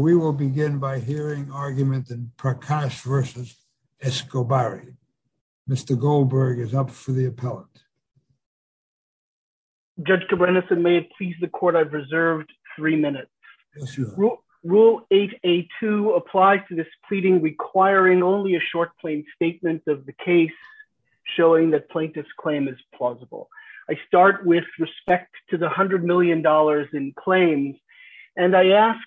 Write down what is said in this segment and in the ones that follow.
We will begin by hearing argument in Prakash versus Escobar. Mr. Goldberg is up for the appellant. Judge Kobrenesen, may it please the court, I've reserved three minutes. Yes, your honor. Rule 8A2 applies to this pleading requiring only a short plain statement of the case showing that plaintiff's claim is plausible. I start with respect to the $100 million in claims. And I ask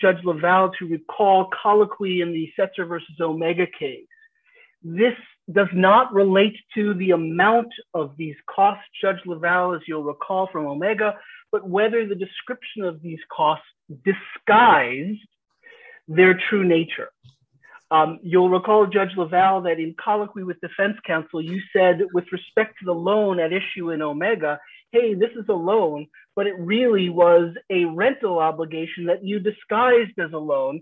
Judge LaValle to recall colloquy in the Setzer versus Omega case. This does not relate to the amount of these costs, Judge LaValle, as you'll recall from Omega, but whether the description of these costs disguise their true nature. You'll recall Judge LaValle that in colloquy with defense counsel, you said with respect to the loan at issue in Omega, hey, this is a loan, but it really was a rental obligation that you disguised as a loan,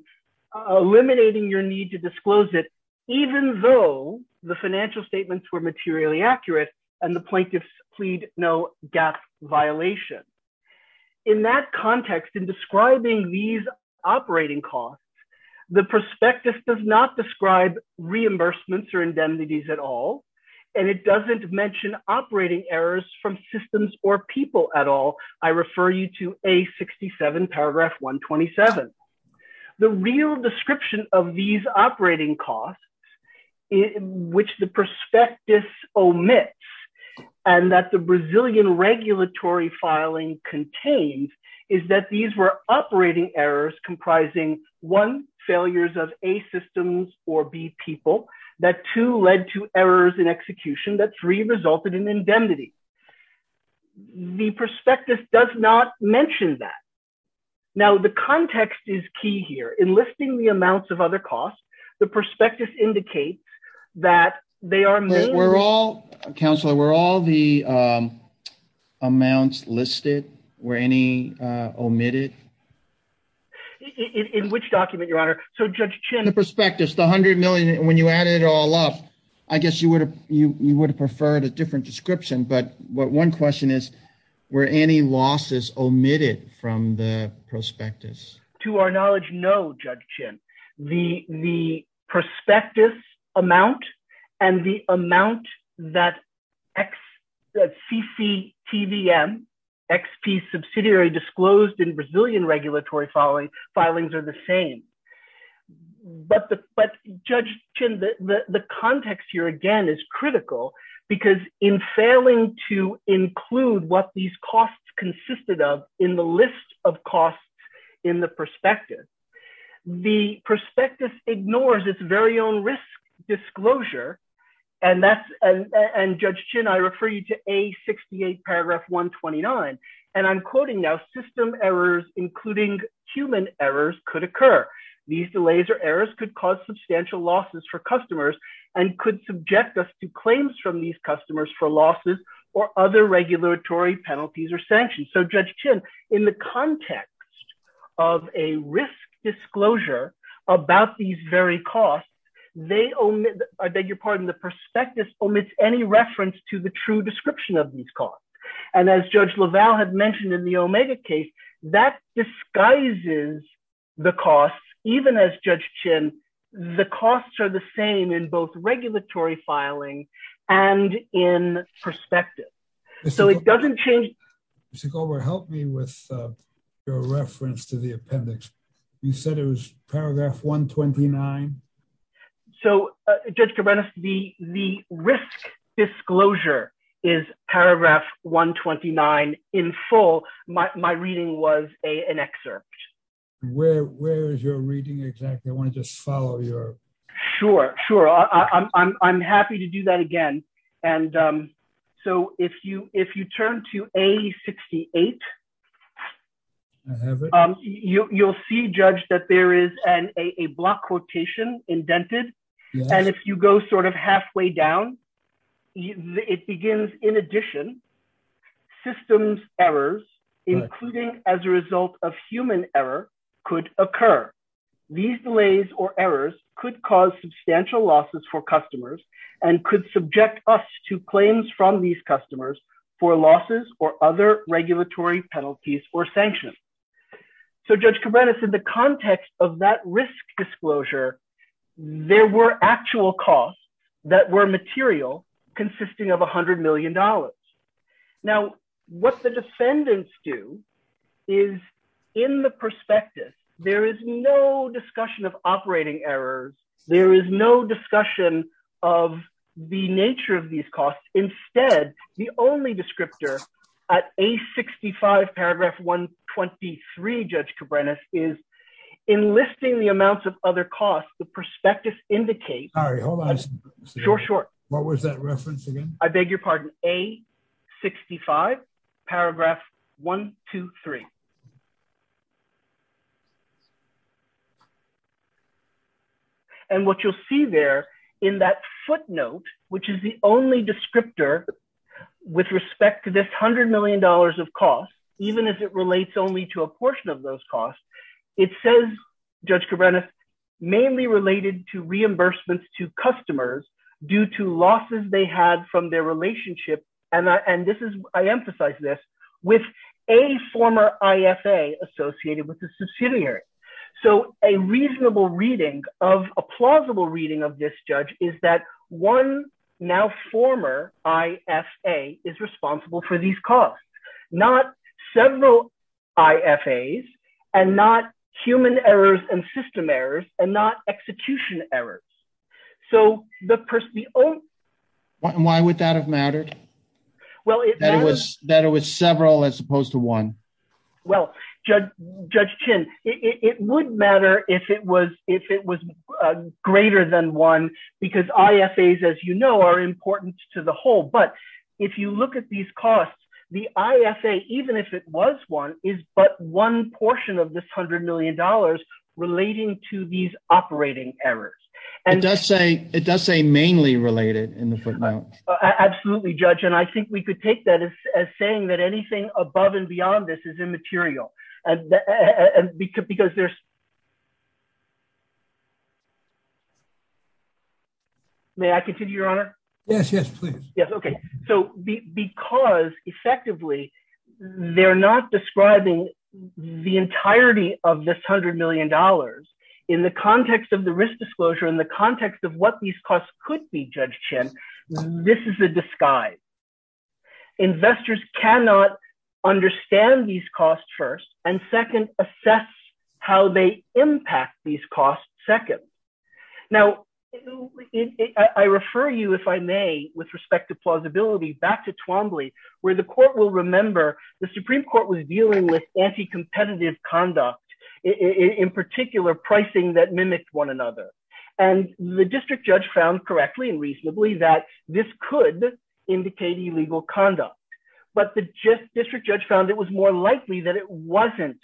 eliminating your need to disclose it, even though the financial statements were materially accurate and the plaintiffs plead no gasp violation. In that context, in describing these operating costs, the prospectus does not describe reimbursements or indemnities at all. And it doesn't mention operating errors from systems or people at all. I refer you to A67 paragraph 127. The real description of these operating costs, which the prospectus omits, and that the Brazilian regulatory filing contains is that these were operating errors comprising one, failures of A systems or B people, that two led to errors in execution, that three resulted in indemnity. The prospectus does not mention that. Now, the context is key here. In listing the amounts of other costs, the prospectus indicates that they are- We're all, Counselor, were all the amounts listed? Were any omitted? In which document, Your Honor? So Judge Chin- The prospectus, the 100 million, when you added it all up, I guess you would have preferred a different description, but one question is, were any losses omitted from the prospectus? To our knowledge, no, Judge Chin. The prospectus amount and the amount that CCTVM, XP subsidiary, disclosed in Brazilian regulatory filings are the same. But Judge Chin, the context here, again, is critical because in failing to include what these costs consisted of in the list of costs in the prospectus, the prospectus ignores its very own risk disclosure. And Judge Chin, I refer you to A68 paragraph 129. And I'm quoting now, including human errors could occur. These delays or errors could cause substantial losses for customers and could subject us to claims from these customers for losses or other regulatory penalties or sanctions. So Judge Chin, in the context of a risk disclosure about these very costs, they omit- I beg your pardon. The prospectus omits any reference to the true description of these costs. And as Judge LaValle had mentioned in the Omega case, that disguises the costs. Even as Judge Chin, the costs are the same in both regulatory filing and in prospectus. So it doesn't change- Mr. Goldberg, help me with your reference to the appendix. You said it was paragraph 129. So Judge Cabreras, the risk disclosure is paragraph 129 in full. My reading was an excerpt. Where is your reading exactly? I want to just follow your- Sure, sure. I'm happy to do that again. And so if you turn to A68, you'll see, Judge, that there is a block quotation indented. And if you go sort of halfway down, it begins, in addition, systems errors, including as a result of human error, could occur. These delays or errors could cause substantial losses for customers and could subject us to claims from these customers for losses or other regulatory penalties or sanctions. So Judge Cabreras, in the context of that risk disclosure, there were actual costs that were material consisting of $100 million. Now, what the defendants do is, in the prospectus, there is no discussion of operating errors. There is no discussion of the nature of these costs. Instead, the only descriptor at A65 paragraph 123, Judge Cabreras, is, in listing the amounts of other costs, the prospectus indicates- Sorry, hold on a second. Sure, sure. What was that reference again? I beg your pardon. A65 paragraph 123. And what you'll see there in that footnote, which is the only descriptor with respect to this $100 million of costs, even as it relates only to a portion of those costs, it says, Judge Cabreras, mainly related to reimbursements to customers due to losses they had from their relationship, and I emphasize this, with a former IFA associated with the subsidiary. So a reasonable reading of, a plausible reading of this, Judge, is that one now former IFA is responsible for these costs, not several IFAs, and not human errors and system errors, and not execution errors. So the person, the only- Why would that have mattered? Well, it- That it was several as opposed to one. Well, Judge Chin, it would matter if it was, if it was greater than one, because IFAs, as you know, are important to the whole, but if you look at these costs, the IFA, even if it was one, is but one portion of this $100 million relating to these operating errors. It does say, it does say mainly related in the footnote. Absolutely, Judge, and I think we could take that as saying that anything above and beyond this is immaterial, because there's- May I continue, Your Honor? Yes, yes, please. Yes, okay. So because, effectively, they're not describing the entirety of this $100 million in the context of the risk disclosure, in the context of what these costs could be, Judge Chin, this is a disguise. Investors cannot understand these costs first, and second, assess how they impact these costs second. Now, I refer you, if I may, with respect to plausibility, back to Twombly, where the court will remember the Supreme Court was dealing with anti-competitive conduct, in particular, pricing that mimicked one another, and the district judge found correctly and reasonably that this could indicate illegal conduct, but the district judge found it was more likely that it wasn't,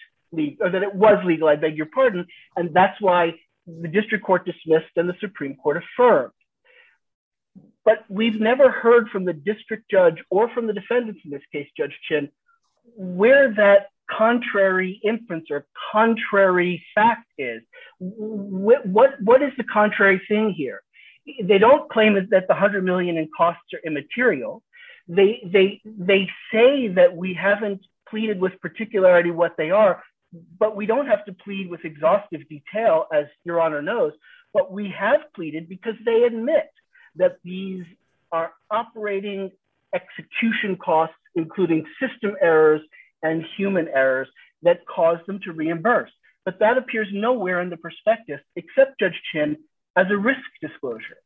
or that it was legal, I beg your pardon, and that's why the district court dismissed and the Supreme Court affirmed. But we've never heard from the district judge or from the defendants, in this case, Judge Chin, where that contrary inference or contrary fact is. What is the contrary thing here? They don't claim that the $100 million in costs are immaterial. They say that we haven't pleaded with particularity what they are, but we don't have to plead with exhaustive detail, as Your Honor knows, but we have pleaded because they admit that these are operating execution costs, including system errors and human errors that caused them to reimburse. But that appears nowhere in the perspective, except Judge Chin, as a risk disclosure.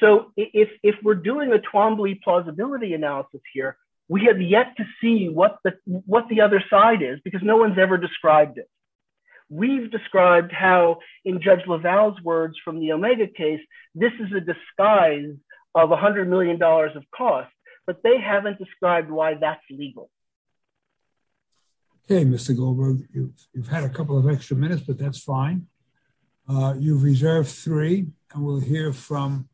So if we're doing a Twombly plausibility analysis here, we have yet to see what the other side is, because no one's ever described it. We've described how, in Judge LaValle's words from the Omega case, this is a disguise of $100 million of costs, but they haven't described why that's legal. Okay, Mr. Goldberg, you've had a couple of extra minutes, but that's fine. You've reserved three, and we'll hear from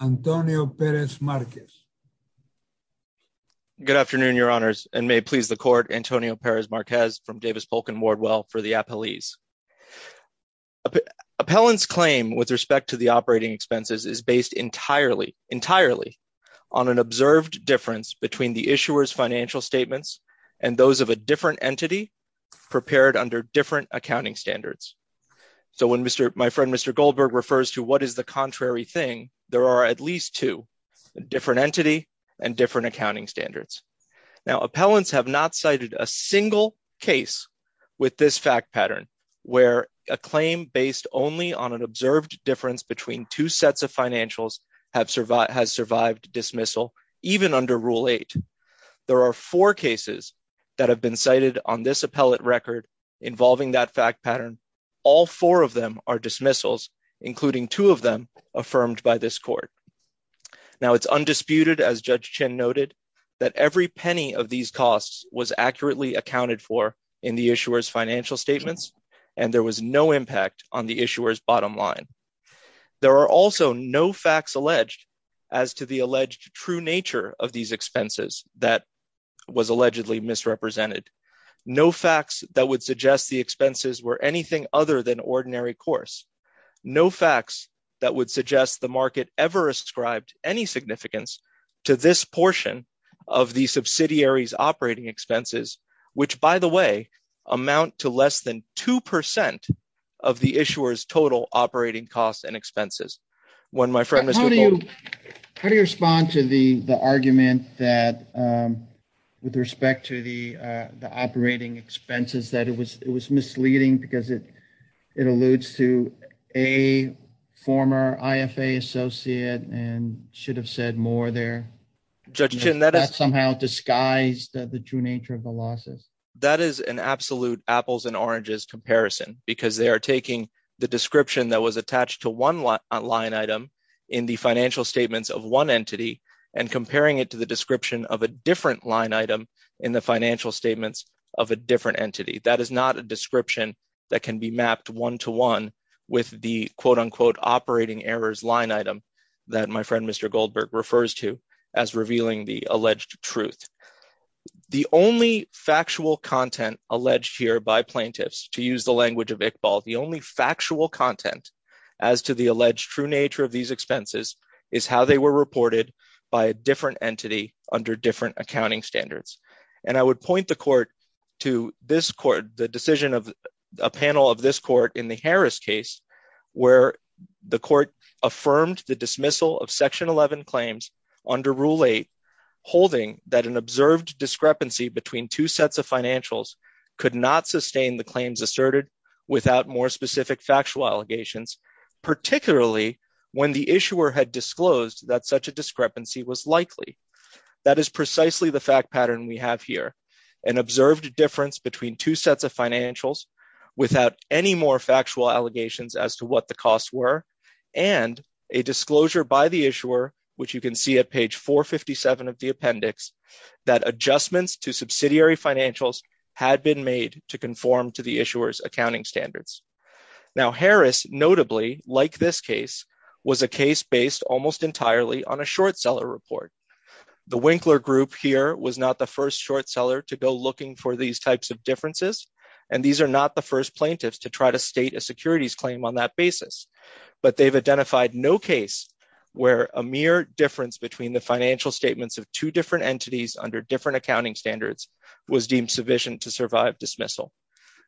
Antonio Perez Marquez. Good afternoon, Your Honors, and may it please the court, Antonio Perez Marquez from Davis Polk and Wardwell for the appellees. Appellant's claim with respect to the operating expenses is based entirely on an observed difference between the issuer's financial statements and those of a different entity prepared under different accounting standards. So when my friend, Mr. Goldberg, refers to what is the contrary thing, there are at least two, a different entity and different accounting standards. Now, appellants have not cited a single case with this fact pattern, where a claim based only on an observed difference between two sets of financials has survived dismissal, even under Rule 8. There are four cases that have been cited on this appellate record involving that fact pattern. All four of them are dismissals, including two of them affirmed by this court. Now, it's undisputed, as Judge Chin noted, that every penny of these costs was accurately accounted for in the issuer's financial statements, and there was no impact on the issuer's bottom line. There are also no facts alleged as to the alleged true nature of these expenses that was allegedly misrepresented. No facts that would suggest the expenses were anything other than ordinary course. No facts that would suggest the market ever ascribed any significance to this portion of the subsidiary's operating expenses, which, by the way, amount to less than 2% of the issuer's total operating costs and expenses. One of my friends- How do you respond to the argument that with respect to the operating expenses, that it was misleading because it alludes to a former IFA associate and should have said more there? Judge Chin, that is- That somehow disguised the true nature of the losses. That is an absolute apples and oranges comparison because they are taking the description that was attached to one line item in the financial statements of one entity and comparing it to the description of a different line item in the financial statements of a different entity. That is not a description that can be mapped one-to-one with the quote-unquote operating errors line item that my friend Mr. Goldberg refers to as revealing the alleged truth. The only factual content alleged here by plaintiffs, to use the language of Iqbal, the only factual content as to the alleged true nature of these expenses is how they were reported by a different entity under different accounting standards. And I would point the court to this court, the decision of a panel of this court in the Harris case where the court affirmed the dismissal of section 11 claims under rule eight, holding that an observed discrepancy between two sets of financials could not sustain the claims asserted without more specific factual allegations, particularly when the issuer had disclosed that such a discrepancy was likely. That is precisely the fact pattern we have here, an observed difference between two sets of financials without any more factual allegations as to what the costs were, and a disclosure by the issuer, which you can see at page 457 of the appendix, that adjustments to subsidiary financials had been made to conform to the issuer's accounting standards. Now, Harris notably, like this case, was a case based almost entirely on a short seller report. The Winkler group here was not the first short seller to go looking for these types of differences, and these are not the first plaintiffs to try to state a securities claim on that basis, but they've identified no case where a mere difference between the financial statements of two different entities under different accounting standards was deemed sufficient to survive dismissal.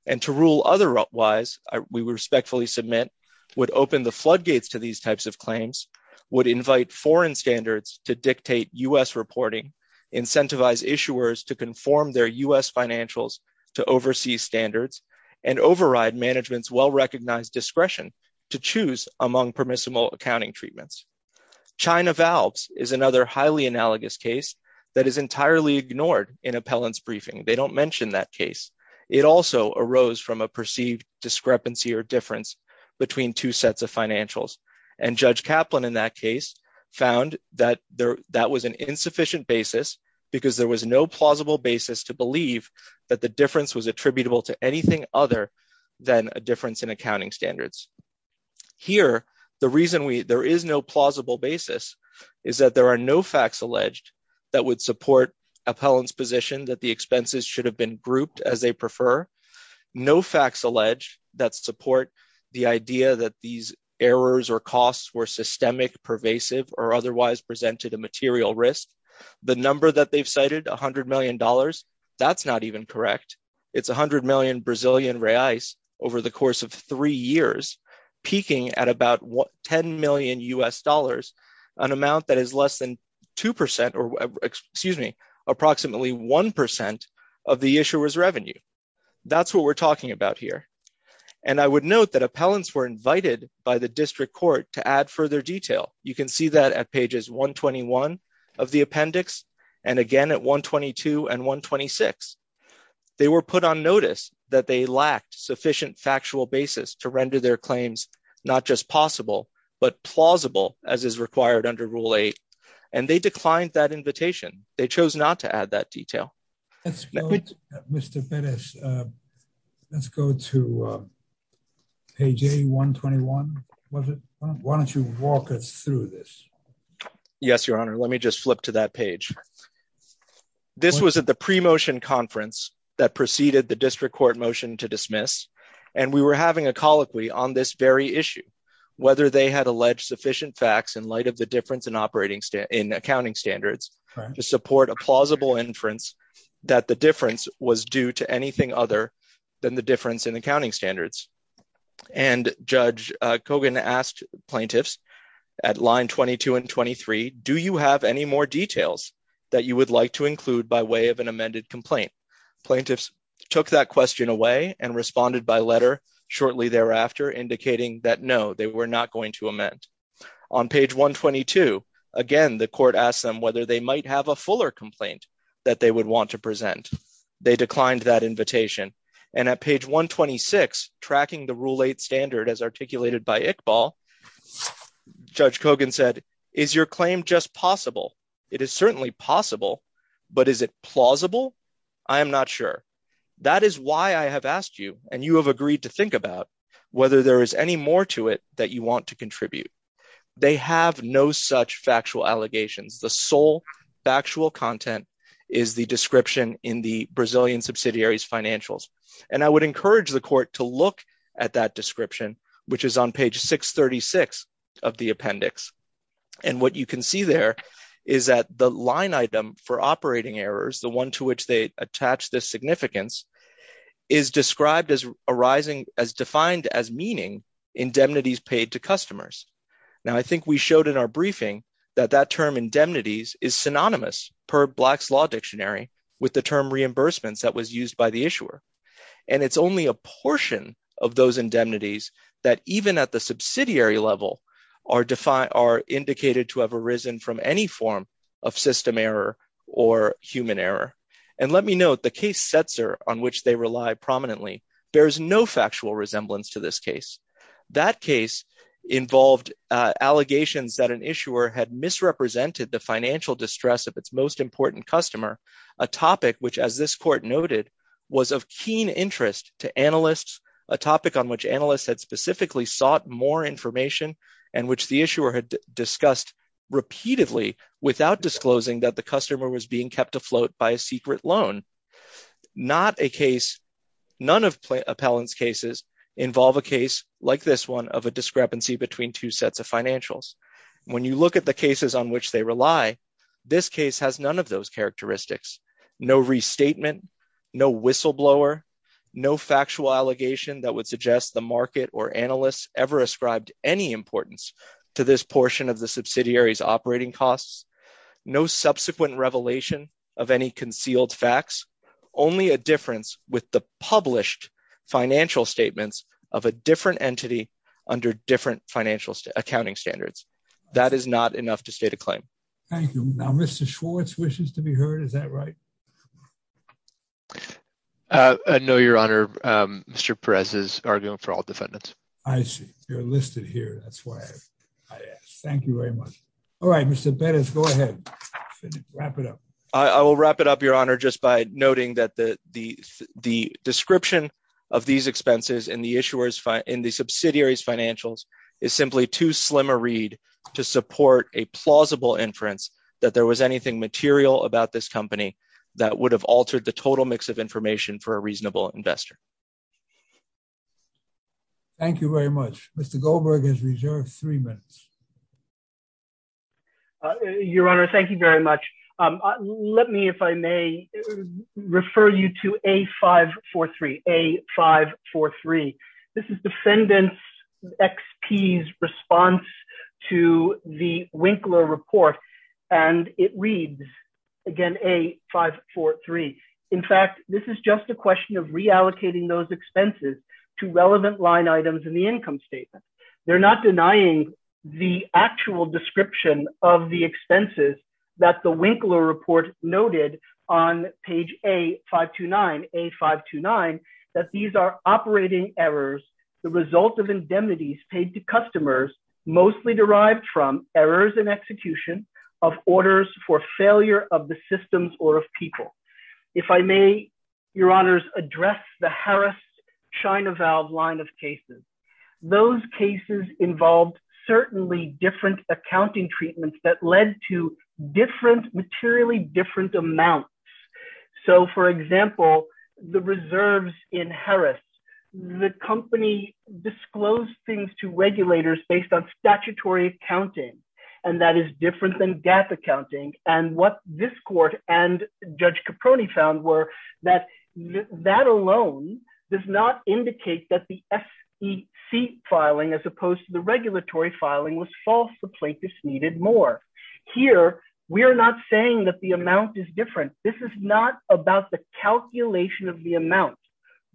And to rule otherwise, we respectfully submit, would open the floodgates to these types of claims, would invite foreign standards to dictate U.S. reporting, incentivize issuers to conform their U.S. financials to overseas standards, and override management's well-recognized discretion to choose among permissible accounting treatments. China Valves is another highly analogous case that is entirely ignored in appellant's briefing. They don't mention that case. It also arose from a perceived discrepancy or difference between two sets of financials, and Judge Kaplan in that case found that that was an insufficient basis because there was no plausible basis to believe that the difference was attributable to anything other than a difference in accounting standards. Here, the reason there is no plausible basis is that there are no facts alleged that would support appellant's position that the expenses should have been grouped as they prefer, no facts alleged that support the idea that these errors or costs were systemic, pervasive, or otherwise presented a material risk. The number that they've cited, $100 million, that's not even correct. It's 100 million Brazilian reais over the course of three years, peaking at about 10 million U.S. dollars, an amount that is less than 2%, excuse me, approximately 1% of the issuer's revenue. That's what we're talking about here. And I would note that appellants were invited by the district court to add further detail. You can see that at pages 121 of the appendix, and again at 122 and 126. They were put on notice that they lacked sufficient factual basis to render their claims not just possible, but plausible as is required under Rule 8. And they declined that invitation. They chose not to add that detail. Let's go, Mr. Perez, let's go to page A121. Why don't you walk us through this? Yes, Your Honor. Let me just flip to that page. This was at the pre-motion conference that preceded the district court motion to dismiss. And we were having a colloquy on this very issue, whether they had alleged sufficient facts in light of the difference in accounting standards to support a plausible inference that the difference was due to anything other than the difference in accounting standards. And Judge Kogan asked plaintiffs at line 22 and 23, do you have any more details that you would like to include by way of an amended complaint? Plaintiffs took that question away and responded by letter shortly thereafter, indicating that no, they were not going to amend. On page 122, again, the court asked them whether they might have a fuller complaint that they would want to present. They declined that invitation. And at page 126, tracking the rule eight standard as articulated by Iqbal, Judge Kogan said, is your claim just possible? It is certainly possible, but is it plausible? I am not sure. That is why I have asked you, and you have agreed to think about whether there is any more to it that you want to contribute. They have no such factual allegations. The sole factual content is the description in the Brazilian subsidiary's financials. And I would encourage the court to look at that description, which is on page 636 of the appendix. And what you can see there is that the line item for operating errors, the one to which they attach this significance, is described as arising, as defined as meaning indemnities paid to customers. Now, I think we showed in our briefing that that term indemnities is synonymous per Black's Law Dictionary with the term reimbursements that was used by the issuer. And it's only a portion of those indemnities that even at the subsidiary level are indicated to have arisen from any form of system error or human error. And let me note the case Setzer, on which they rely prominently, bears no factual resemblance to this case. That case involved allegations that an issuer had misrepresented the financial distress of its most important customer, a topic which as this court noted was of keen interest to analysts, a topic on which analysts had specifically sought more information and which the issuer had discussed repeatedly without disclosing that the customer was being kept afloat by a secret loan. Not a case, none of Appellant's cases involve a case like this one of a discrepancy between two sets of financials. When you look at the cases on which they rely, this case has none of those characteristics, no restatement, no whistleblower, no factual allegation that would suggest the market or analysts ever ascribed any importance to this portion of the subsidiary's operating costs, no subsequent revelation of any concealed facts, only a difference with the published financial statements of a different entity under different financial accounting standards. That is not enough to state a claim. Thank you. Now, Mr. Schwartz wishes to be heard, is that right? No, Your Honor, Mr. Perez is arguing for all defendants. I see, you're listed here, that's why I asked. Thank you very much. All right, Mr. Perez, go ahead, wrap it up. I will wrap it up, Your Honor, just by noting that the description of these expenses in the subsidiary's financials is simply too slimmer read to support a plausible inference that there was anything material about this company that would have altered the total mix of information for a reasonable investor. Thank you very much. Mr. Goldberg is reserved three minutes. Your Honor, thank you very much. Let me, if I may, refer you to A543, A543. This is defendant XP's response to the Winkler report and it reads, again, A543. In fact, this is just a question of reallocating those expenses to relevant line items in the income statement. They're not denying the actual description of the expenses that the Winkler report noted on page A529, A529, that these are operating errors, the result of indemnities paid to customers mostly derived from errors in execution of orders for failure of the systems or of people. If I may, Your Honors, address the Harris China Valve line of cases. Those cases involved certainly different accounting treatments that led to different, materially different amounts. So for example, the reserves in Harris, the company disclosed things to regulators based on statutory accounting, and that is different than GAF accounting. And what this court and Judge Caproni found were that that alone does not indicate that the SEC filing as opposed to the regulatory filing was false, the plaintiffs needed more. Here, we're not saying that the amount is different. This is not about the calculation of the amount.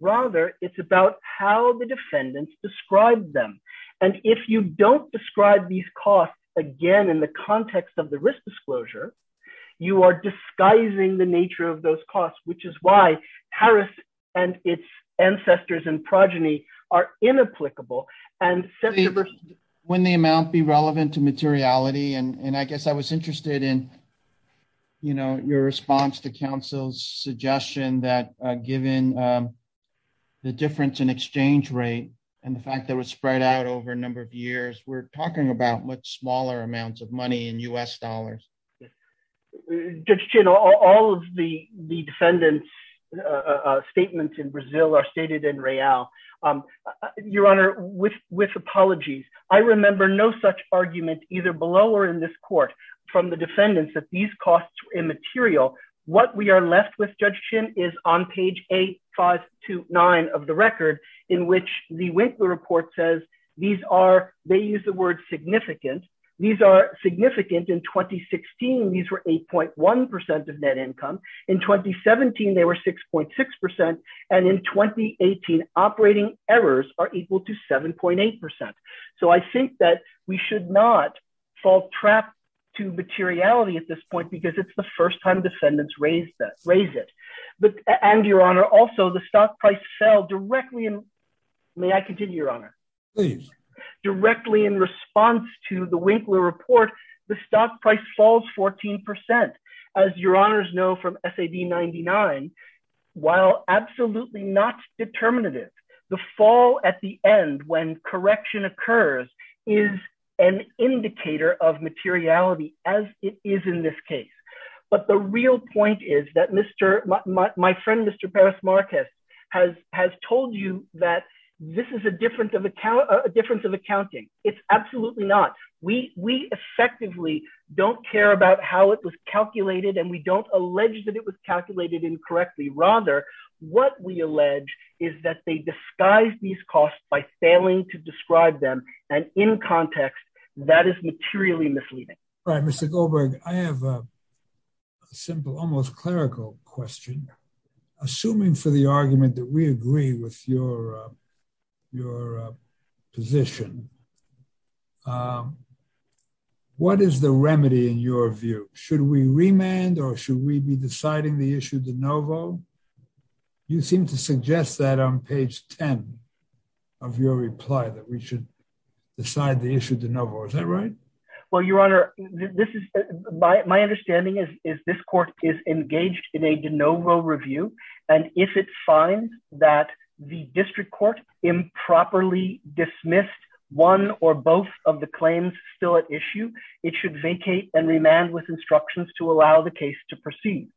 Rather, it's about how the defendants described them. And if you don't describe these costs, again, in the context of the risk disclosure, you are disguising the nature of those costs, which is why Harris and its ancestors and progeny are inapplicable. And- When the amount be relevant to materiality, and I guess I was interested in, you know, your response to counsel's suggestion that given the difference in exchange rate and the fact that it was spread out over a number of years, we're talking about much smaller amounts of money in US dollars. Judge Chin, all of the defendants' statements in Brazil are stated in Real. Your Honor, with apologies, I remember no such argument either below or in this court from the defendants that these costs were immaterial. What we are left with, Judge Chin, is on page eight, five to nine of the record in which the Winkler Report says these are, they use the word significant. These are significant in 2016. These were 8.1% of net income. In 2017, they were 6.6%. And in 2018, operating errors are equal to 7.8%. So I think that we should not fall trap to materiality at this point because it's the first time defendants raise it. But, and Your Honor, also the stock price fell directly in, may I continue, Your Honor? Please. Directly in response to the Winkler Report, the stock price falls 14%. As Your Honors know from SAB 99, while absolutely not determinative, the fall at the end when correction occurs is an indicator of materiality as it is in this case. But the real point is that my friend, Mr. Paris Marquez, has told you that this is a difference of accounting. It's absolutely not. We effectively don't care about how it was calculated and we don't allege that it was calculated incorrectly. Rather, what we allege is that they disguised these costs by failing to describe them. And in context, that is materially misleading. Right, Mr. Goldberg, I have a simple, almost clerical question. Assuming for the argument that we agree with your position, what is the remedy in your view? Should we remand or should we be deciding the issue de novo? You seem to suggest that on page 10 of your reply that we should decide the issue de novo, is that right? Well, Your Honor, my understanding is this court is engaged in a de novo review. And if it finds that the district court improperly dismissed one or both of the claims still at issue, it should vacate and remand with instructions to allow the case to proceed.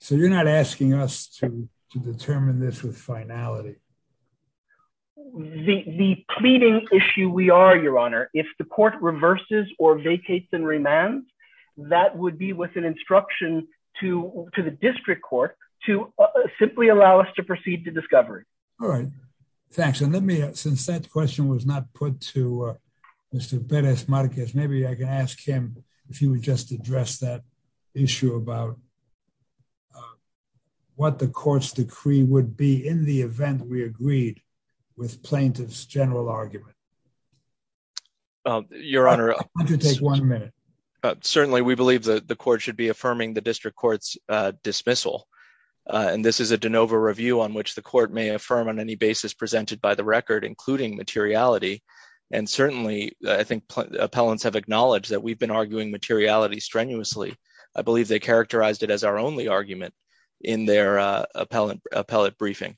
So you're not asking us to determine this with finality? The pleading issue we are, Your Honor, if the court reverses or vacates and remands, that would be with an instruction to the district court to simply allow us to proceed to discovery. All right, thanks. Since that question was not put to Mr. Perez Marquez, maybe I can ask him if he would just address that issue about what the court's decree would be in the event we agreed with plaintiff's general argument. Your Honor- Why don't you take one minute? Certainly, we believe that the court should be affirming the district court's dismissal. And this is a de novo review on which the court may affirm on any basis presented by the record, including materiality. And certainly I think appellants have acknowledged that we've been arguing materiality strenuously. I believe they characterized it as our only argument in their appellate briefing.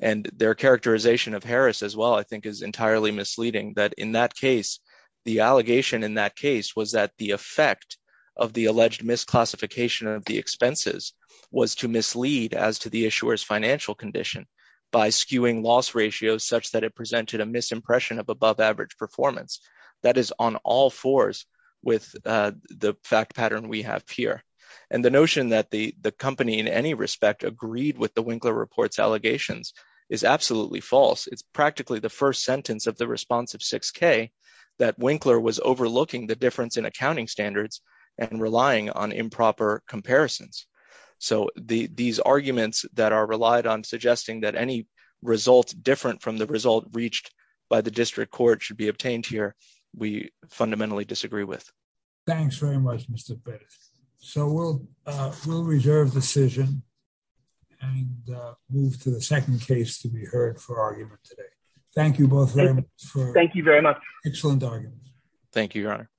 And their characterization of Harris as well, I think is entirely misleading that in that case, the allegation in that case was that the effect of the alleged misclassification of the expenses was to mislead as to the issuer's financial condition by skewing loss ratios, such that it presented a misimpression of above average performance. That is on all fours with the fact pattern we have here. And the notion that the company in any respect agreed with the Winkler reports allegations is absolutely false. It's practically the first sentence of the responsive 6K that Winkler was overlooking the difference in accounting standards and relying on improper comparisons. So these arguments that are relied on suggesting that any results different from the result reached by the district court should be obtained here, we fundamentally disagree with. Thanks very much, Mr. Bates. So we'll reserve decision and move to the second case to be heard for argument today. Thank you both very much for excellent arguments. Thank you, Your Honor.